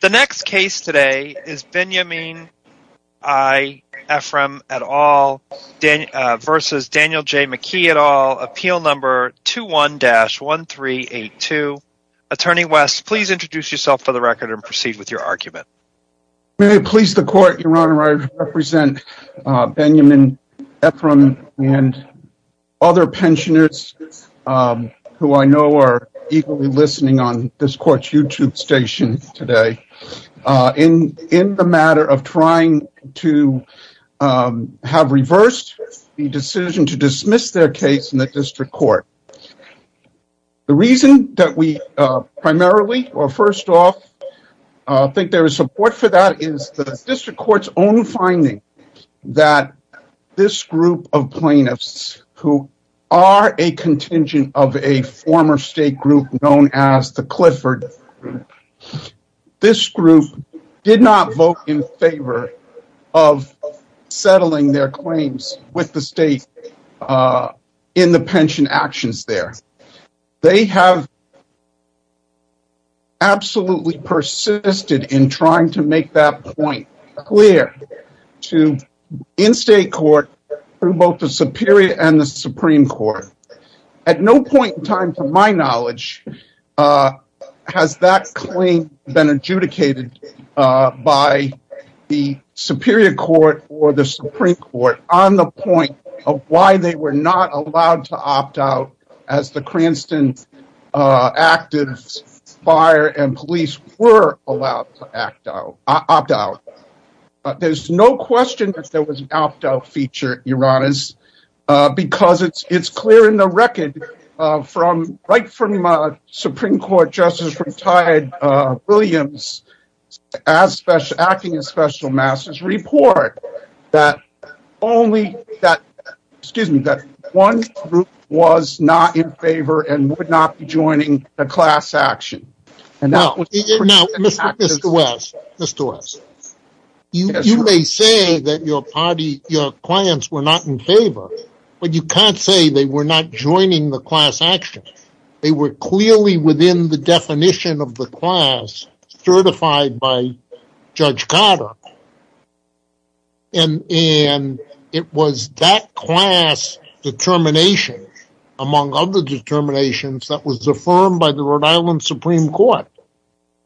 The next case today is Benjamin I. Efreom v. Daniel J. McKee, Appeal Number 21-1382. Attorney West, please introduce yourself for the record and proceed with your argument. May it please the Court, Your Honor, I represent Benjamin Efreom and other pensioners who I know are eagerly listening on this Court's YouTube station today, in the matter of trying to have reversed the decision to dismiss their case in the District Court. The reason that we primarily, or first off, think there is support for that is the District Court's own finding that this group of plaintiffs, who are a contingent of a former state group known as the Clifford Group, this group did not vote in favor of settling their claims with the state in the pension actions there. They have absolutely persisted in trying to make that point clear to, in state court, to both the Superior and the Supreme Court. At no point in time, to my knowledge, has that claim been adjudicated by the Superior Court or the Supreme Court on the point of why they were not allowed to opt out as the Cranston Actives Fire and Police were allowed to opt out. There's no question that there was an opt-out feature, Your Honors, because it's clear in the record, right from a Supreme Court Justice retired Williams acting as Special Master's report, that one group was not in favor and would not be joining the class action. Now, Mr. West, you may say that your clients were not in favor, but you can't say they were not joining the class action. They were clearly within the definition of the class certified by Judge Cotter. And it was that class determination, among other determinations, that was affirmed by the Rhode Island Supreme Court.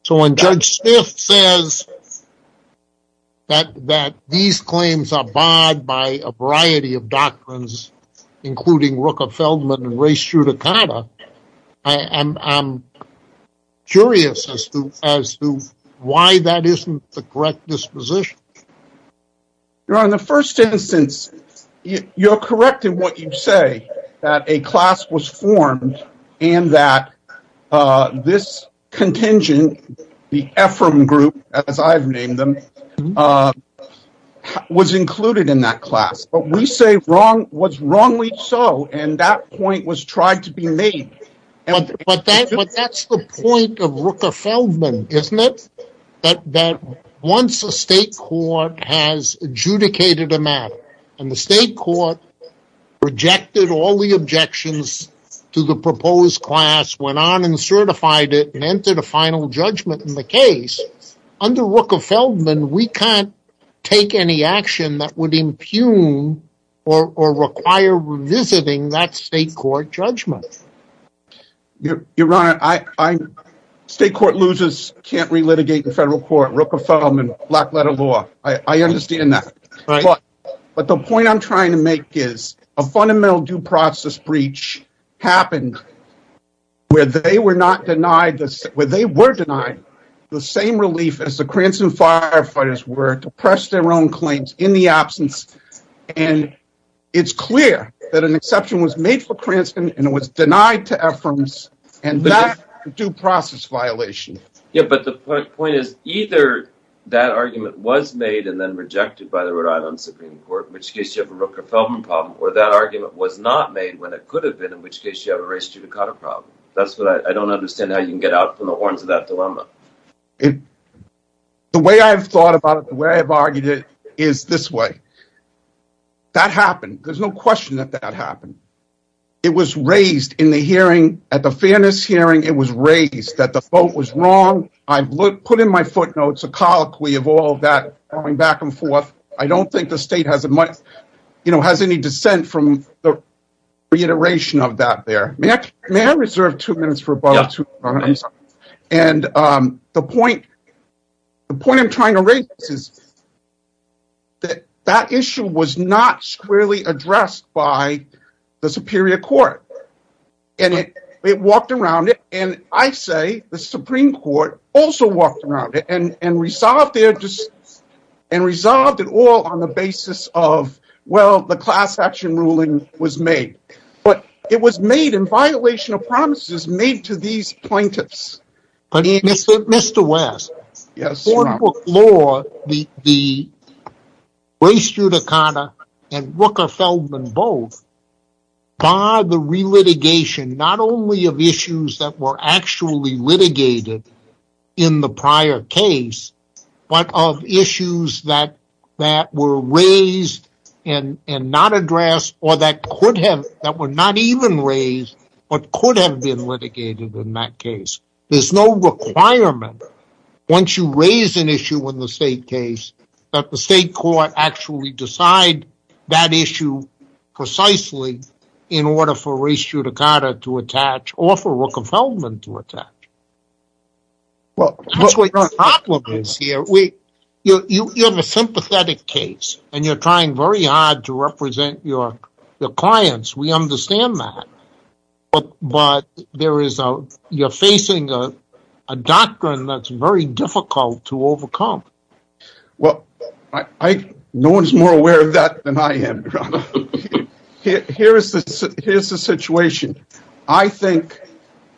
So when Judge Smith says that these claims are barred by a variety of doctrines, including Rooker-Feldman and race judicata, I'm curious as to why that isn't the correct disposition. Your Honor, in the first instance, you're correct in what you say, that a class was formed and that this contingent, the Ephraim group, as I've named them, was included in that class. But we say what's wrongly so, and that point was tried to be made. But that's the point of Rooker-Feldman, isn't it? That once a state court has adjudicated a matter, and the state court rejected all the objections to the proposed class, went on and certified it, and entered a final judgment in the case, under Rooker-Feldman, we can't take any action that would impugn or require revisiting that state court judgment. Your Honor, state court losers can't relitigate the federal court, Rooker-Feldman, black letter law, I understand that. But the point I'm trying to make is, a fundamental due process breach happened where they were denied the same relief as the Cranston firefighters were to press their own claims in the absence. And it's clear that an exception was made for Cranston, and it was denied to Ephraim, and that's a due process violation. Yeah, but the point is, either that argument was made and then rejected by the Rhode Island Supreme Court, in which case you have a Rooker-Feldman problem, or that argument was not made when it could have been, in which case you have a race judicata problem. I don't understand how you can get out from the horns of that dilemma. The way I've thought about it, the way I've argued it, is this way. That happened. There's no question that that happened. It was raised in the hearing, at the fairness hearing, it was raised that the vote was wrong. I've put in my footnotes a colloquy of all that going back and forth. I don't think the state has any dissent from the reiteration of that there. May I reserve two minutes for a moment? And the point I'm trying to raise is that that issue was not squarely addressed by the Superior Court. And it walked around it, and I say the Supreme Court also walked around it, and resolved it all on the basis of, well, the class action ruling was made. But it was made in violation of promises made to these plaintiffs. Mr. West, the race judicata and Rooker-Feldman both bar the relitigation, not only of issues that were actually litigated in the prior case, but of issues that were raised and not addressed, or that were not even raised, but could have been litigated in that case. There's no requirement, once you raise an issue in the state case, that the state court actually decide that issue precisely in order for race judicata to attach, or for Rooker-Feldman to attach. That's what your problem is here. You have a sympathetic case, and you're trying very hard to represent your clients. We understand that. But you're facing a doctrine that's very difficult to overcome. Well, no one's more aware of that than I am, Your Honor. Here's the situation. I think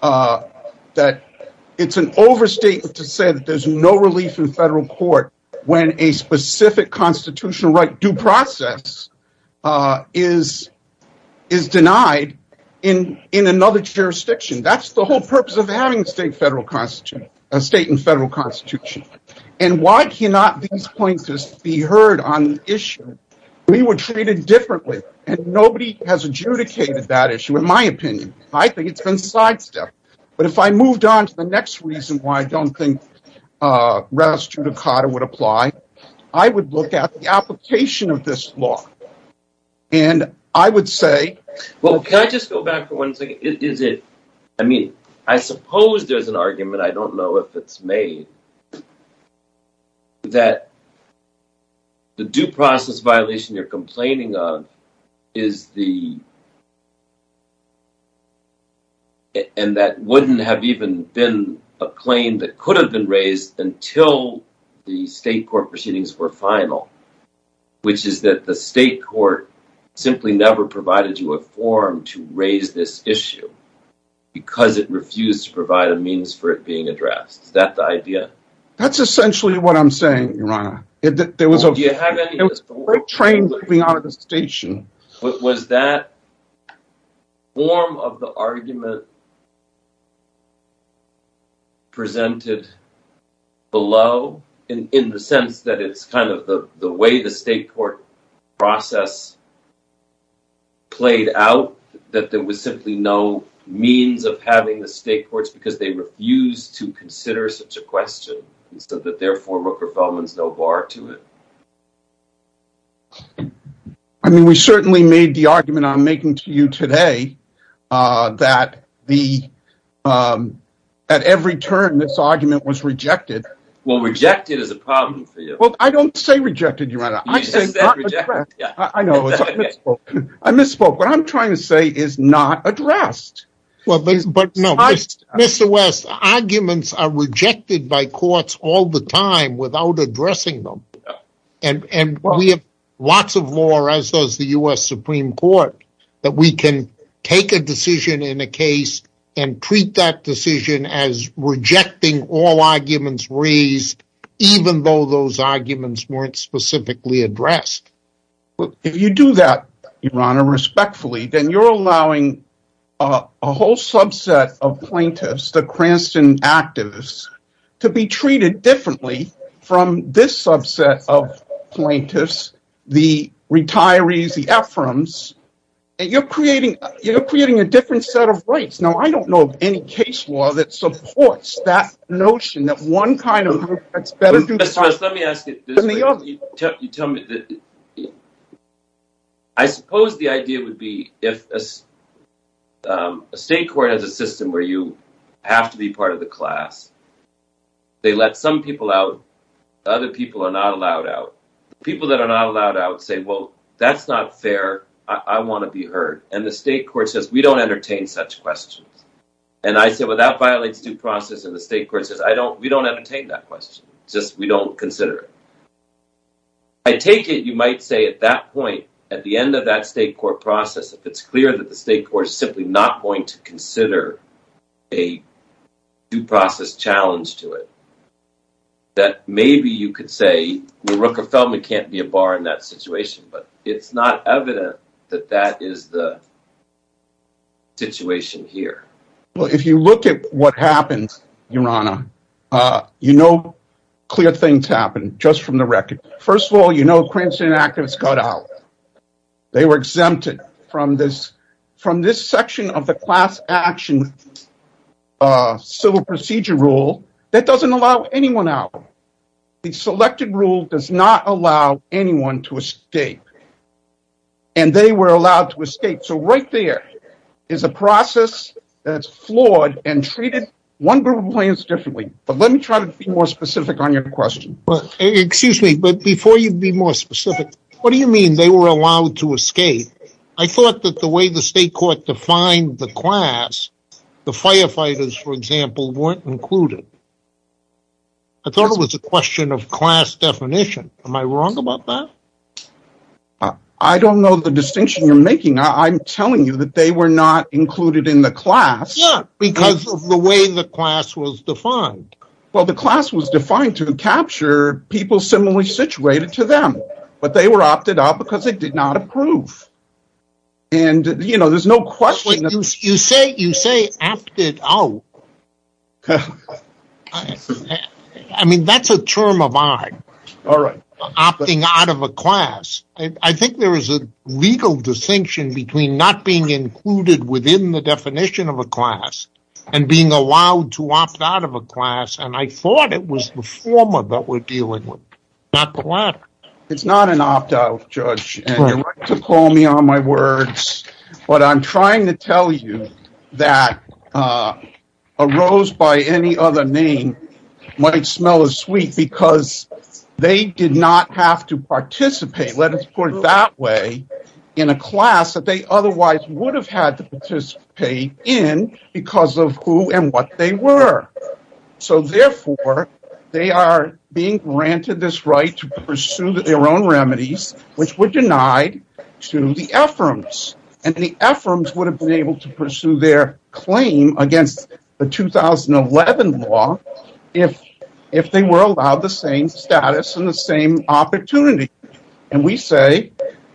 that it's an overstatement to say that there's no relief in federal court when a specific constitutional right due process is denied in another jurisdiction. That's the whole purpose of having a state and federal constitution. And why cannot these plaintiffs be heard on the issue? We were treated differently, and nobody has adjudicated that issue. In my opinion, I think it's been sidestepped. But if I moved on to the next reason why I don't think race judicata would apply, I would look at the application of this law, and I would say— Well, can I just go back for one second? Is it—I mean, I suppose there's an argument, I don't know if it's made, that the due process violation you're complaining of is the— and that wouldn't have even been a claim that could have been raised until the state court proceedings were final, which is that the state court simply never provided you a form to raise this issue because it refused to provide a means for it being addressed. Is that the idea? That's essentially what I'm saying, Your Honor. There was a train moving out of the station. Was that form of the argument presented below, in the sense that it's kind of the way the state court process played out, that there was simply no means of having the state courts because they refused to consider such a question, and so therefore Rooker-Feldman's no bar to it? I mean, we certainly made the argument I'm making to you today that at every turn this argument was rejected. Well, rejected is a problem for you. Well, I don't say rejected, Your Honor. You just said rejected. I misspoke. What I'm trying to say is not addressed. Mr. West, arguments are rejected by courts all the time without addressing them, and we have lots of law, as does the U.S. Supreme Court, that we can take a decision in a case and treat that decision as rejecting all arguments raised even though those arguments weren't specifically addressed. If you do that, Your Honor, respectfully, then you're allowing a whole subset of plaintiffs, the Cranston activists, to be treated differently from this subset of plaintiffs, the retirees, the ephraims, and you're creating a different set of rights. Now, I don't know of any case law that supports that notion that one kind of group that's better than the other. Mr. West, let me ask it this way. You tell me. I suppose the idea would be if a state court has a system where you have to be part of the class. They let some people out. Other people are not allowed out. People that are not allowed out say, well, that's not fair. I want to be heard. And the state court says, we don't entertain such questions. And I say, well, that violates due process, and the state court says, we don't entertain that question. Just we don't consider it. I take it you might say at that point, at the end of that state court process, if it's clear that the state court is simply not going to consider a due process challenge to it, that maybe you could say, well, Rooker-Feldman can't be a bar in that situation. But it's not evident that that is the situation here. Well, if you look at what happens, Your Honor, you know clear things happen just from the record. First of all, you know, Kremsen activists got out. They were exempted from this section of the class action civil procedure rule that doesn't allow anyone out. The selected rule does not allow anyone to escape. And they were allowed to escape. So right there is a process that's flawed and treated one group of clients differently. But let me try to be more specific on your question. Excuse me, but before you be more specific, what do you mean they were allowed to escape? I thought that the way the state court defined the class, the firefighters, for example, weren't included. I thought it was a question of class definition. Am I wrong about that? I don't know the distinction you're making. I'm telling you that they were not included in the class. Yeah, because of the way the class was defined. Well, the class was defined to capture people similarly situated to them. But they were opted out because they did not approve. And, you know, there's no question. You say opted out. I mean, that's a term of art. All right. Opting out of a class. I think there is a legal distinction between not being included within the definition of a class and being allowed to opt out of a class. And I thought it was the former that we're dealing with, not the latter. It's not an opt out, Judge. And you're right to call me on my words. But I'm trying to tell you that a rose by any other name might smell as sweet because they did not have to participate, let us put it that way, in a class that they otherwise would have had to participate in because of who and what they were. So, therefore, they are being granted this right to pursue their own remedies, which were denied to the Ephraims. And the Ephraims would have been able to pursue their claim against the 2011 law if they were allowed the same status and the same opportunity. And we say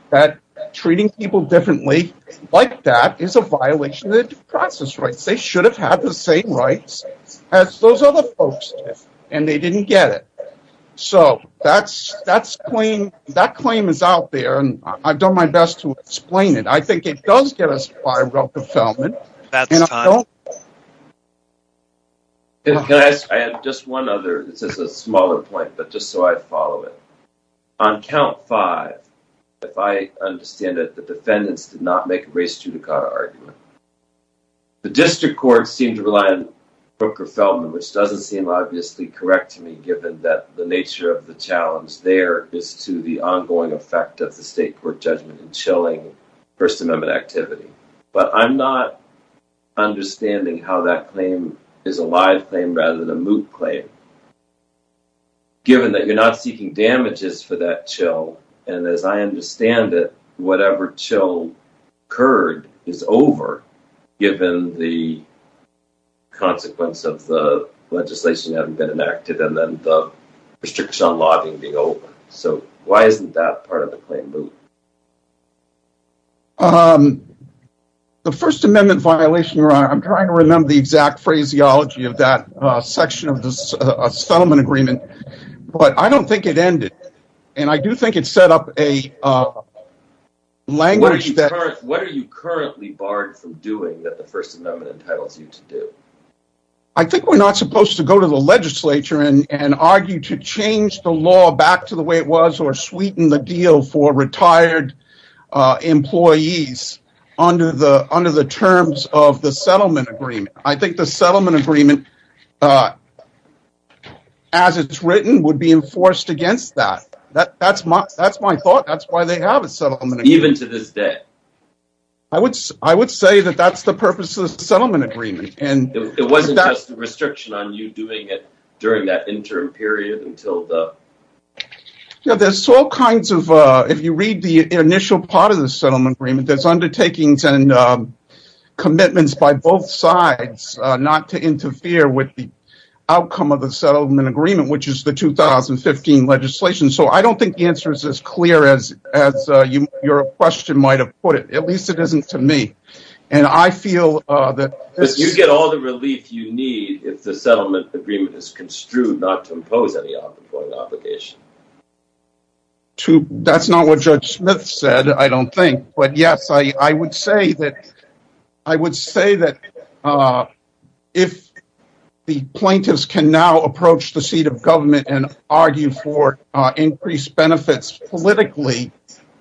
that treating people differently like that is a violation of the due process rights. They should have had the same rights as those other folks did, and they didn't get it. So, that claim is out there, and I've done my best to explain it. I think it does get us far enough fulfillment. That's time. Can I add just one other? This is a smaller point, but just so I follow it. On count five, if I understand it, the defendants did not make a race judicata argument. The district courts seem to rely on Rooker-Feldman, which doesn't seem obviously correct to me, given that the nature of the challenge there is to the ongoing effect of the state court judgment in chilling First Amendment activity. But I'm not understanding how that claim is a live claim rather than a moot claim, given that you're not seeking damages for that chill. And as I understand it, whatever chill occurred is over, given the consequence of the legislation having been enacted and then the restriction on lobbying being over. So, why isn't that part of the claim moot? The First Amendment violation, I'm trying to remember the exact phraseology of that section of the settlement agreement, but I don't think it ended, and I do think it set up a language that… What are you currently barred from doing that the First Amendment entitles you to do? I think we're not supposed to go to the legislature and argue to change the law back to the way it was or sweeten the deal for retired employees under the terms of the settlement agreement. I think the settlement agreement, as it's written, would be enforced against that. That's my thought. That's why they have a settlement agreement. Even to this day? I would say that that's the purpose of the settlement agreement. It wasn't just a restriction on you doing it during that interim period until the… There's all kinds of… If you read the initial part of the settlement agreement, there's undertakings and commitments by both sides not to interfere with the outcome of the settlement agreement, which is the 2015 legislation. So, I don't think the answer is as clear as your question might have put it. At least it isn't to me. You get all the relief you need if the settlement agreement is construed not to impose any obligation. That's not what Judge Smith said, I don't think. But yes, I would say that if the plaintiffs can now approach the seat of government and argue for increased benefits politically,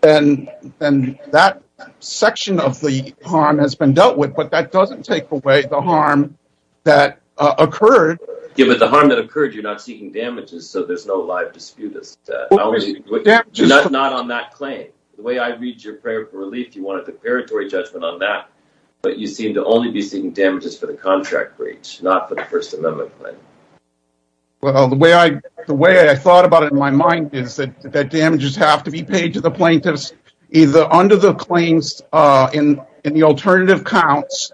then that section of the harm has been dealt with. But that doesn't take away the harm that occurred. Yeah, but the harm that occurred, you're not seeking damages, so there's no live dispute. Not on that claim. The way I read your prayer for relief, you wanted a preparatory judgment on that. But you seem to only be seeking damages for the contract breach, not for the First Amendment claim. Well, the way I thought about it in my mind is that damages have to be paid to the plaintiffs, either under the claims in the alternative counts,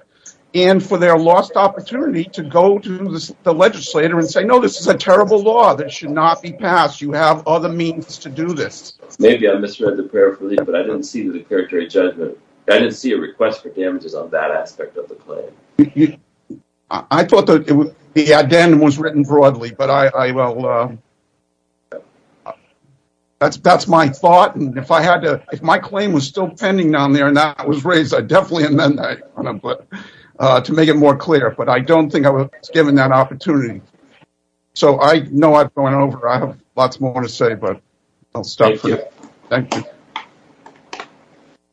and for their lost opportunity to go to the legislator and say, no, this is a terrible law that should not be passed. You have other means to do this. Maybe I misread the prayer for relief, but I didn't see the preparatory judgment. I didn't see a request for damages on that aspect of the claim. I thought the addendum was written broadly, but that's my thought. If my claim was still pending down there and that was raised, I'd definitely amend that to make it more clear. But I don't think I was given that opportunity. So I know I've gone over. I have lots more to say, but I'll stop there. Thank you.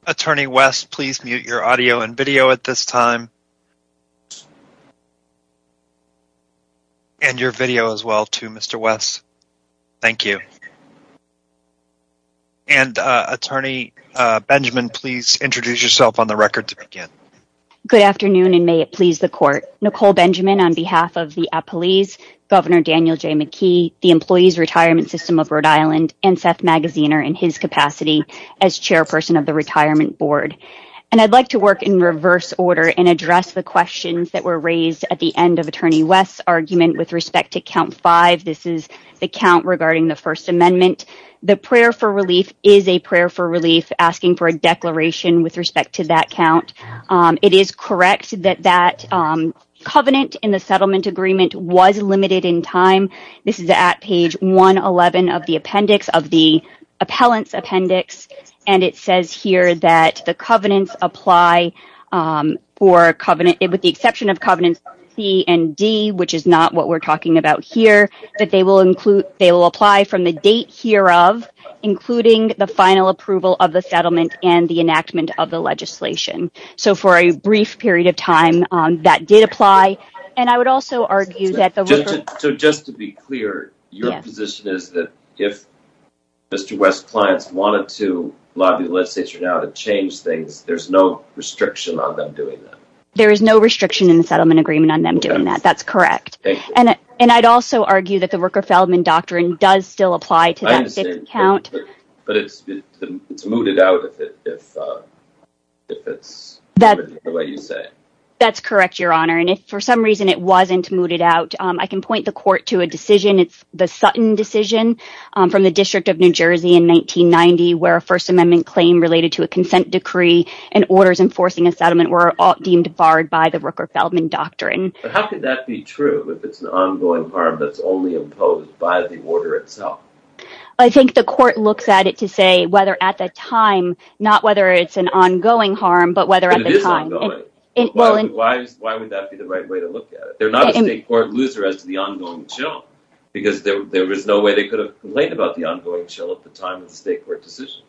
Attorney West, please mute your audio and video at this time. And your video as well, too, Mr. West. Thank you. And Attorney Benjamin, please introduce yourself on the record to begin. Good afternoon, and may it please the court. Nicole Benjamin, on behalf of the appellees, Governor Daniel J. McKee, the Employees Retirement System of Rhode Island, and Seth Magaziner, in his capacity as chairperson of the Retirement Board. And I'd like to work in reverse order and address the questions that were raised at the end of Attorney West's argument with respect to count five. This is the count regarding the First Amendment. The prayer for relief is a prayer for relief, asking for a declaration with respect to that count. It is correct that that covenant in the settlement agreement was limited in time. This is at page 111 of the appellant's appendix, and it says here that the covenants apply with the exception of covenants C and D, which is not what we're talking about here, that they will apply from the date hereof, including the final approval of the settlement and the enactment of the legislation. So for a brief period of time, that did apply. So just to be clear, your position is that if Mr. West's clients wanted to lobby the legislature now to change things, there's no restriction on them doing that? There is no restriction in the settlement agreement on them doing that. That's correct. And I'd also argue that the Rooker-Feldman Doctrine does still apply to that fifth count. But it's mooted out if it's what you say. That's correct, Your Honor. And if for some reason it wasn't mooted out, I can point the court to a decision. It's the Sutton decision from the District of New Jersey in 1990, where a First Amendment claim related to a consent decree and orders enforcing a settlement were deemed barred by the Rooker-Feldman Doctrine. But how could that be true if it's an ongoing harm that's only imposed by the order itself? I think the court looks at it to say whether at the time, not whether it's an ongoing harm, but whether at the time. Why would that be the right way to look at it? They're not a state court loser as to the ongoing chill because there is no way they could have complained about the ongoing chill at the time of the state court decision.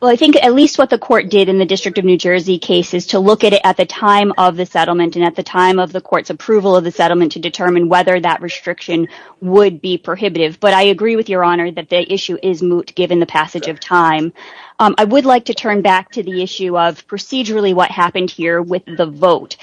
Well, I think at least what the court did in the District of New Jersey case is to look at it at the time of the settlement and at the time of the court's approval of the settlement to determine whether that restriction would be prohibitive. But I agree with Your Honor that the issue is moot given the passage of time. I would like to turn back to the issue of procedurally what happened here with the vote.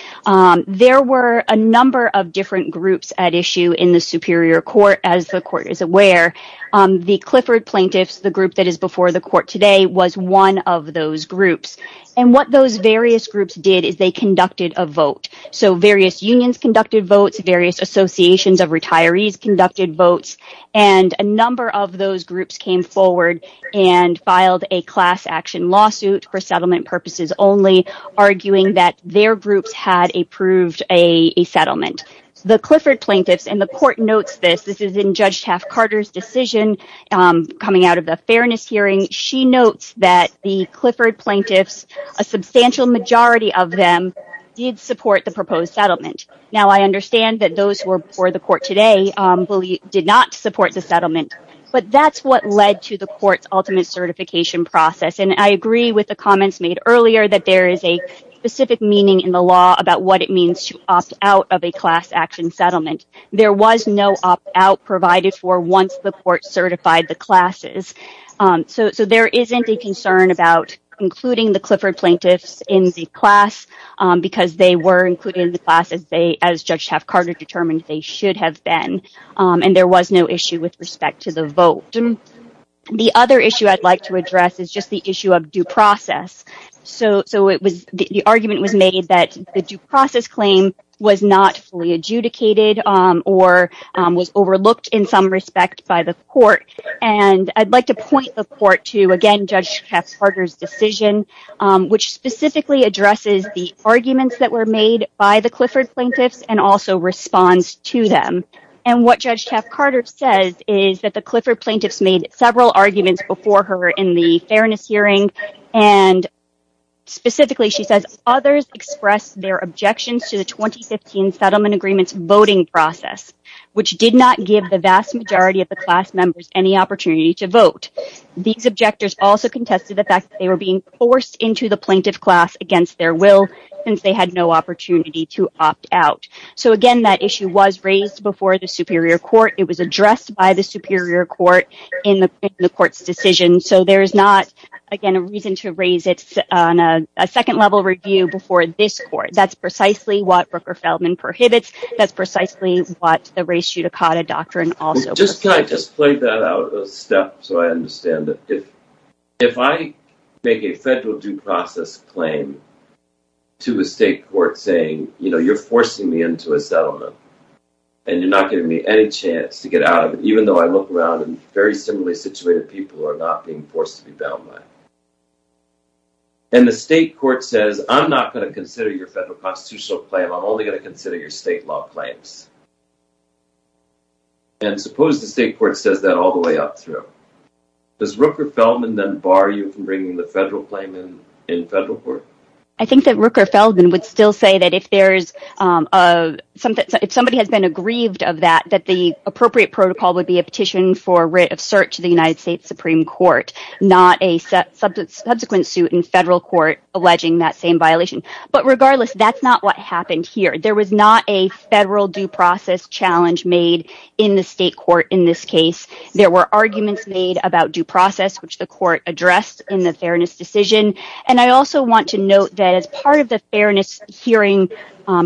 There were a number of different groups at issue in the Superior Court. As the court is aware, the Clifford plaintiffs, the group that is before the court today, was one of those groups. And what those various groups did is they conducted a vote. So various unions conducted votes, various associations of retirees conducted votes, and a number of those groups came forward and filed a class action lawsuit for settlement purposes only, arguing that their groups had approved a settlement. The Clifford plaintiffs, and the court notes this, this is in Judge Taft-Carter's decision coming out of the fairness hearing, she notes that the Clifford plaintiffs, a substantial majority of them, did support the proposed settlement. Now, I understand that those who are before the court today did not support the settlement, but that's what led to the court's ultimate certification process. And I agree with the comments made earlier that there is a specific meaning in the law about what it means to opt out of a class action settlement. There was no opt-out provided for once the court certified the classes. So there isn't a concern about including the Clifford plaintiffs in the class because they were included in the class as Judge Taft-Carter determined they should have been. And there was no issue with respect to the vote. The other issue I'd like to address is just the issue of due process. So the argument was made that the due process claim was not fully adjudicated or was overlooked in some respect by the court. And I'd like to point the court to, again, Judge Taft-Carter's decision, which specifically addresses the arguments that were made by the Clifford plaintiffs and also responds to them. And what Judge Taft-Carter says is that the Clifford plaintiffs made several arguments before her in the fairness hearing, and specifically she says others expressed their objections to the 2015 settlement agreement's voting process, which did not give the vast majority of the class members any opportunity to vote. These objectors also contested the fact that they were being forced into the plaintiff class against their will since they had no opportunity to opt out. So, again, that issue was raised before the Superior Court. It was addressed by the Superior Court in the court's decision. So there is not, again, a reason to raise it on a second-level review before this court. That's precisely what Rooker-Feldman prohibits. That's precisely what the race judicata doctrine also prohibits. Can I just play that out a step so I understand it? If I make a federal due process claim to a state court saying, you know, you're forcing me into a settlement and you're not giving me any chance to get out of it, even though I look around and very similarly situated people are not being forced to be bound by it, and the state court says, I'm not going to consider your federal constitutional claim, I'm only going to consider your state law claims, and suppose the state court says that all the way up through. Does Rooker-Feldman then bar you from bringing the federal claim in federal court? I think that Rooker-Feldman would still say that if somebody has been aggrieved of that, that the appropriate protocol would be a petition for writ of cert to the United States Supreme Court, not a subsequent suit in federal court alleging that same violation. But regardless, that's not what happened here. There was not a federal due process challenge made in the state court in this case. There were arguments made about due process, which the court addressed in the fairness decision, and I also want to note that as part of the fairness hearing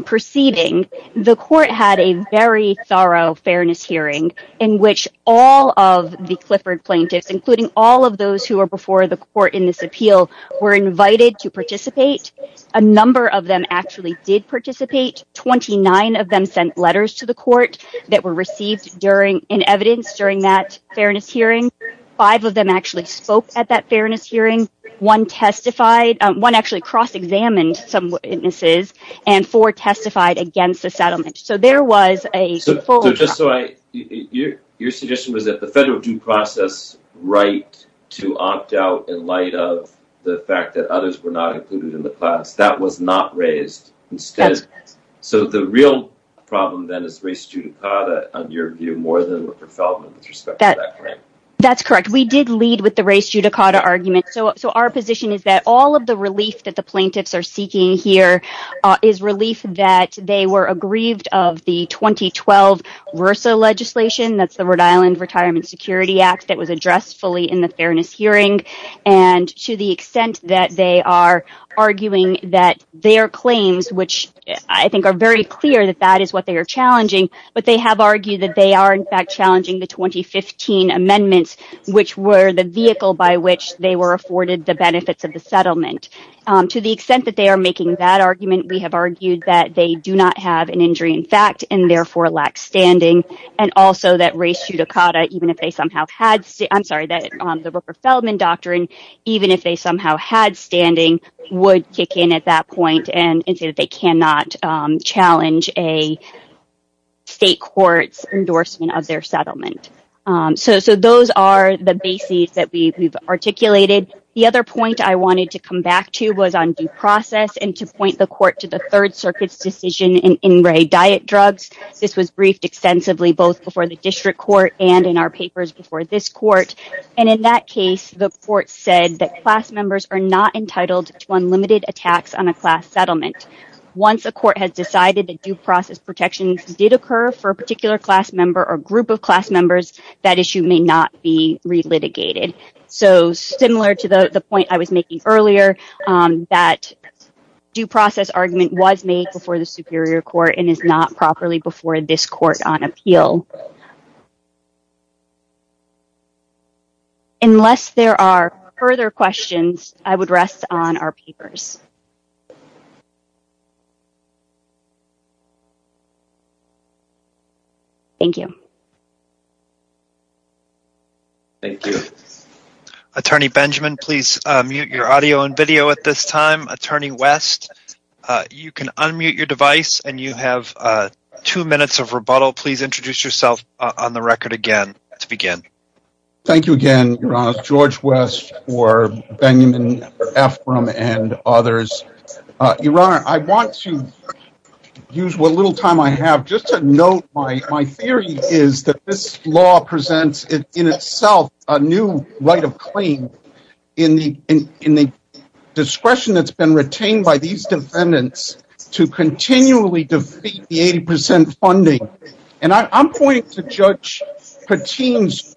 proceeding, the court had a very thorough fairness hearing in which all of the Clifford plaintiffs, including all of those who are before the court in this appeal, were invited to participate. A number of them actually did participate. Twenty-nine of them sent letters to the court that were received in evidence during that fairness hearing. Five of them actually spoke at that fairness hearing. One actually cross-examined some witnesses, and four testified against the settlement. So your suggestion was that the federal due process right to opt out in light of the fact that others were not included in the class, that was not raised instead. So the real problem then is race judicata, in your view, more than Richard Feldman with respect to that claim. That's correct. We did lead with the race judicata argument. So our position is that all of the relief that the plaintiffs are seeking here is relief that they were aggrieved of the 2012 RRSA legislation, that's the Rhode Island Retirement Security Act that was addressed fully in the fairness hearing, and to the extent that they are arguing that their claims, which I think are very clear that that is what they are challenging, but they have argued that they are in fact challenging the 2015 amendments, which were the vehicle by which they were afforded the benefits of the settlement. To the extent that they are making that argument, we have argued that they do not have an injury in fact, and therefore lack standing, and also that race judicata, even if they somehow had, I'm sorry, that the Rupert Feldman doctrine, even if they somehow had standing, would kick in at that point and say that they cannot challenge a state court's endorsement of their settlement. So those are the bases that we've articulated. The other point I wanted to come back to was on due process and to point the court to the Third Circuit's decision in In Re Diet Drugs. This was briefed extensively both before the district court and in our papers before this court, and in that case, the court said that class members are not entitled to unlimited attacks on a class settlement. Once a court has decided that due process protections did occur for a particular class member or group of class members, that issue may not be re-litigated. So similar to the point I was making earlier, that due process argument was made before the superior court and is not properly before this court on appeal. Unless there are further questions, I would rest on our papers. Thank you. Thank you. Attorney Benjamin, please mute your audio and video at this time. Attorney West, you can unmute your device and you have two minutes of rebuttal. Please introduce yourself on the record again to begin. Thank you again, Your Honor. George West for Benjamin Ephraim and others. Your Honor, I want to use what little time I have just to note my theory is that this law presents in itself a new right of claim in the discretion that's been retained by these defendants to continually defeat the 80% funding. And I'm pointing to Judge Patin's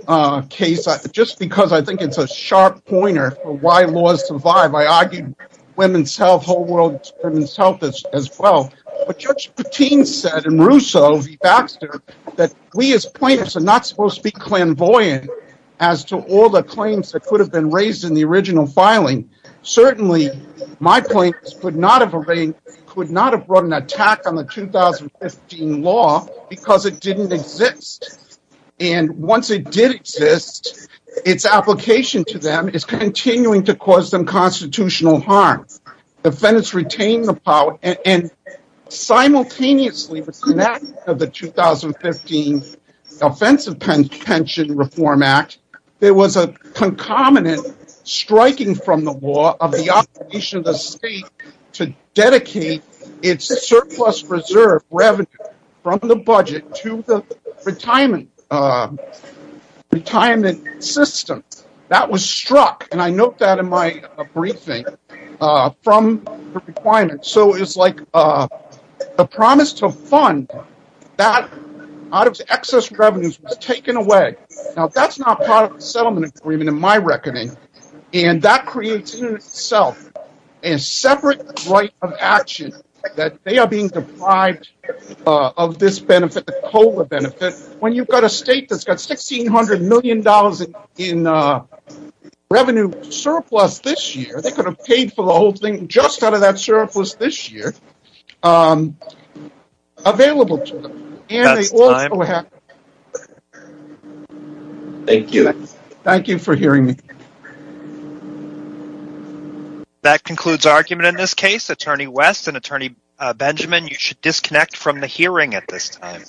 case just because I think it's a sharp pointer for why laws survive. I argue women's health, whole world women's health as well. But Judge Patin said in Russo v. Baxter that we as plaintiffs are not supposed to be clairvoyant as to all the claims that could have been raised in the original filing. Certainly, my plaintiffs could not have run an attack on the 2015 law because it didn't exist. And once it did exist, its application to them is continuing to cause them constitutional harm. Defendants retained the power and simultaneously with the enactment of the 2015 Offensive Pension Reform Act, there was a concomitant striking from the law of the obligation of the state to dedicate its surplus reserve revenue from the budget to the retirement system. That was struck, and I note that in my briefing, from the requirement. So it's like the promise to fund that out of excess revenues was taken away. Now, that's not part of the settlement agreement in my reckoning. And that creates in itself a separate right of action that they are being deprived of this benefit, the COLA benefit, when you've got a state that's got $1,600 million in revenue surplus this year. They could have paid for the whole thing just out of that surplus this year available to them. And they also have... Thank you. Thank you for hearing me. That concludes argument in this case. Attorney West and Attorney Benjamin, you should disconnect from the hearing at this time.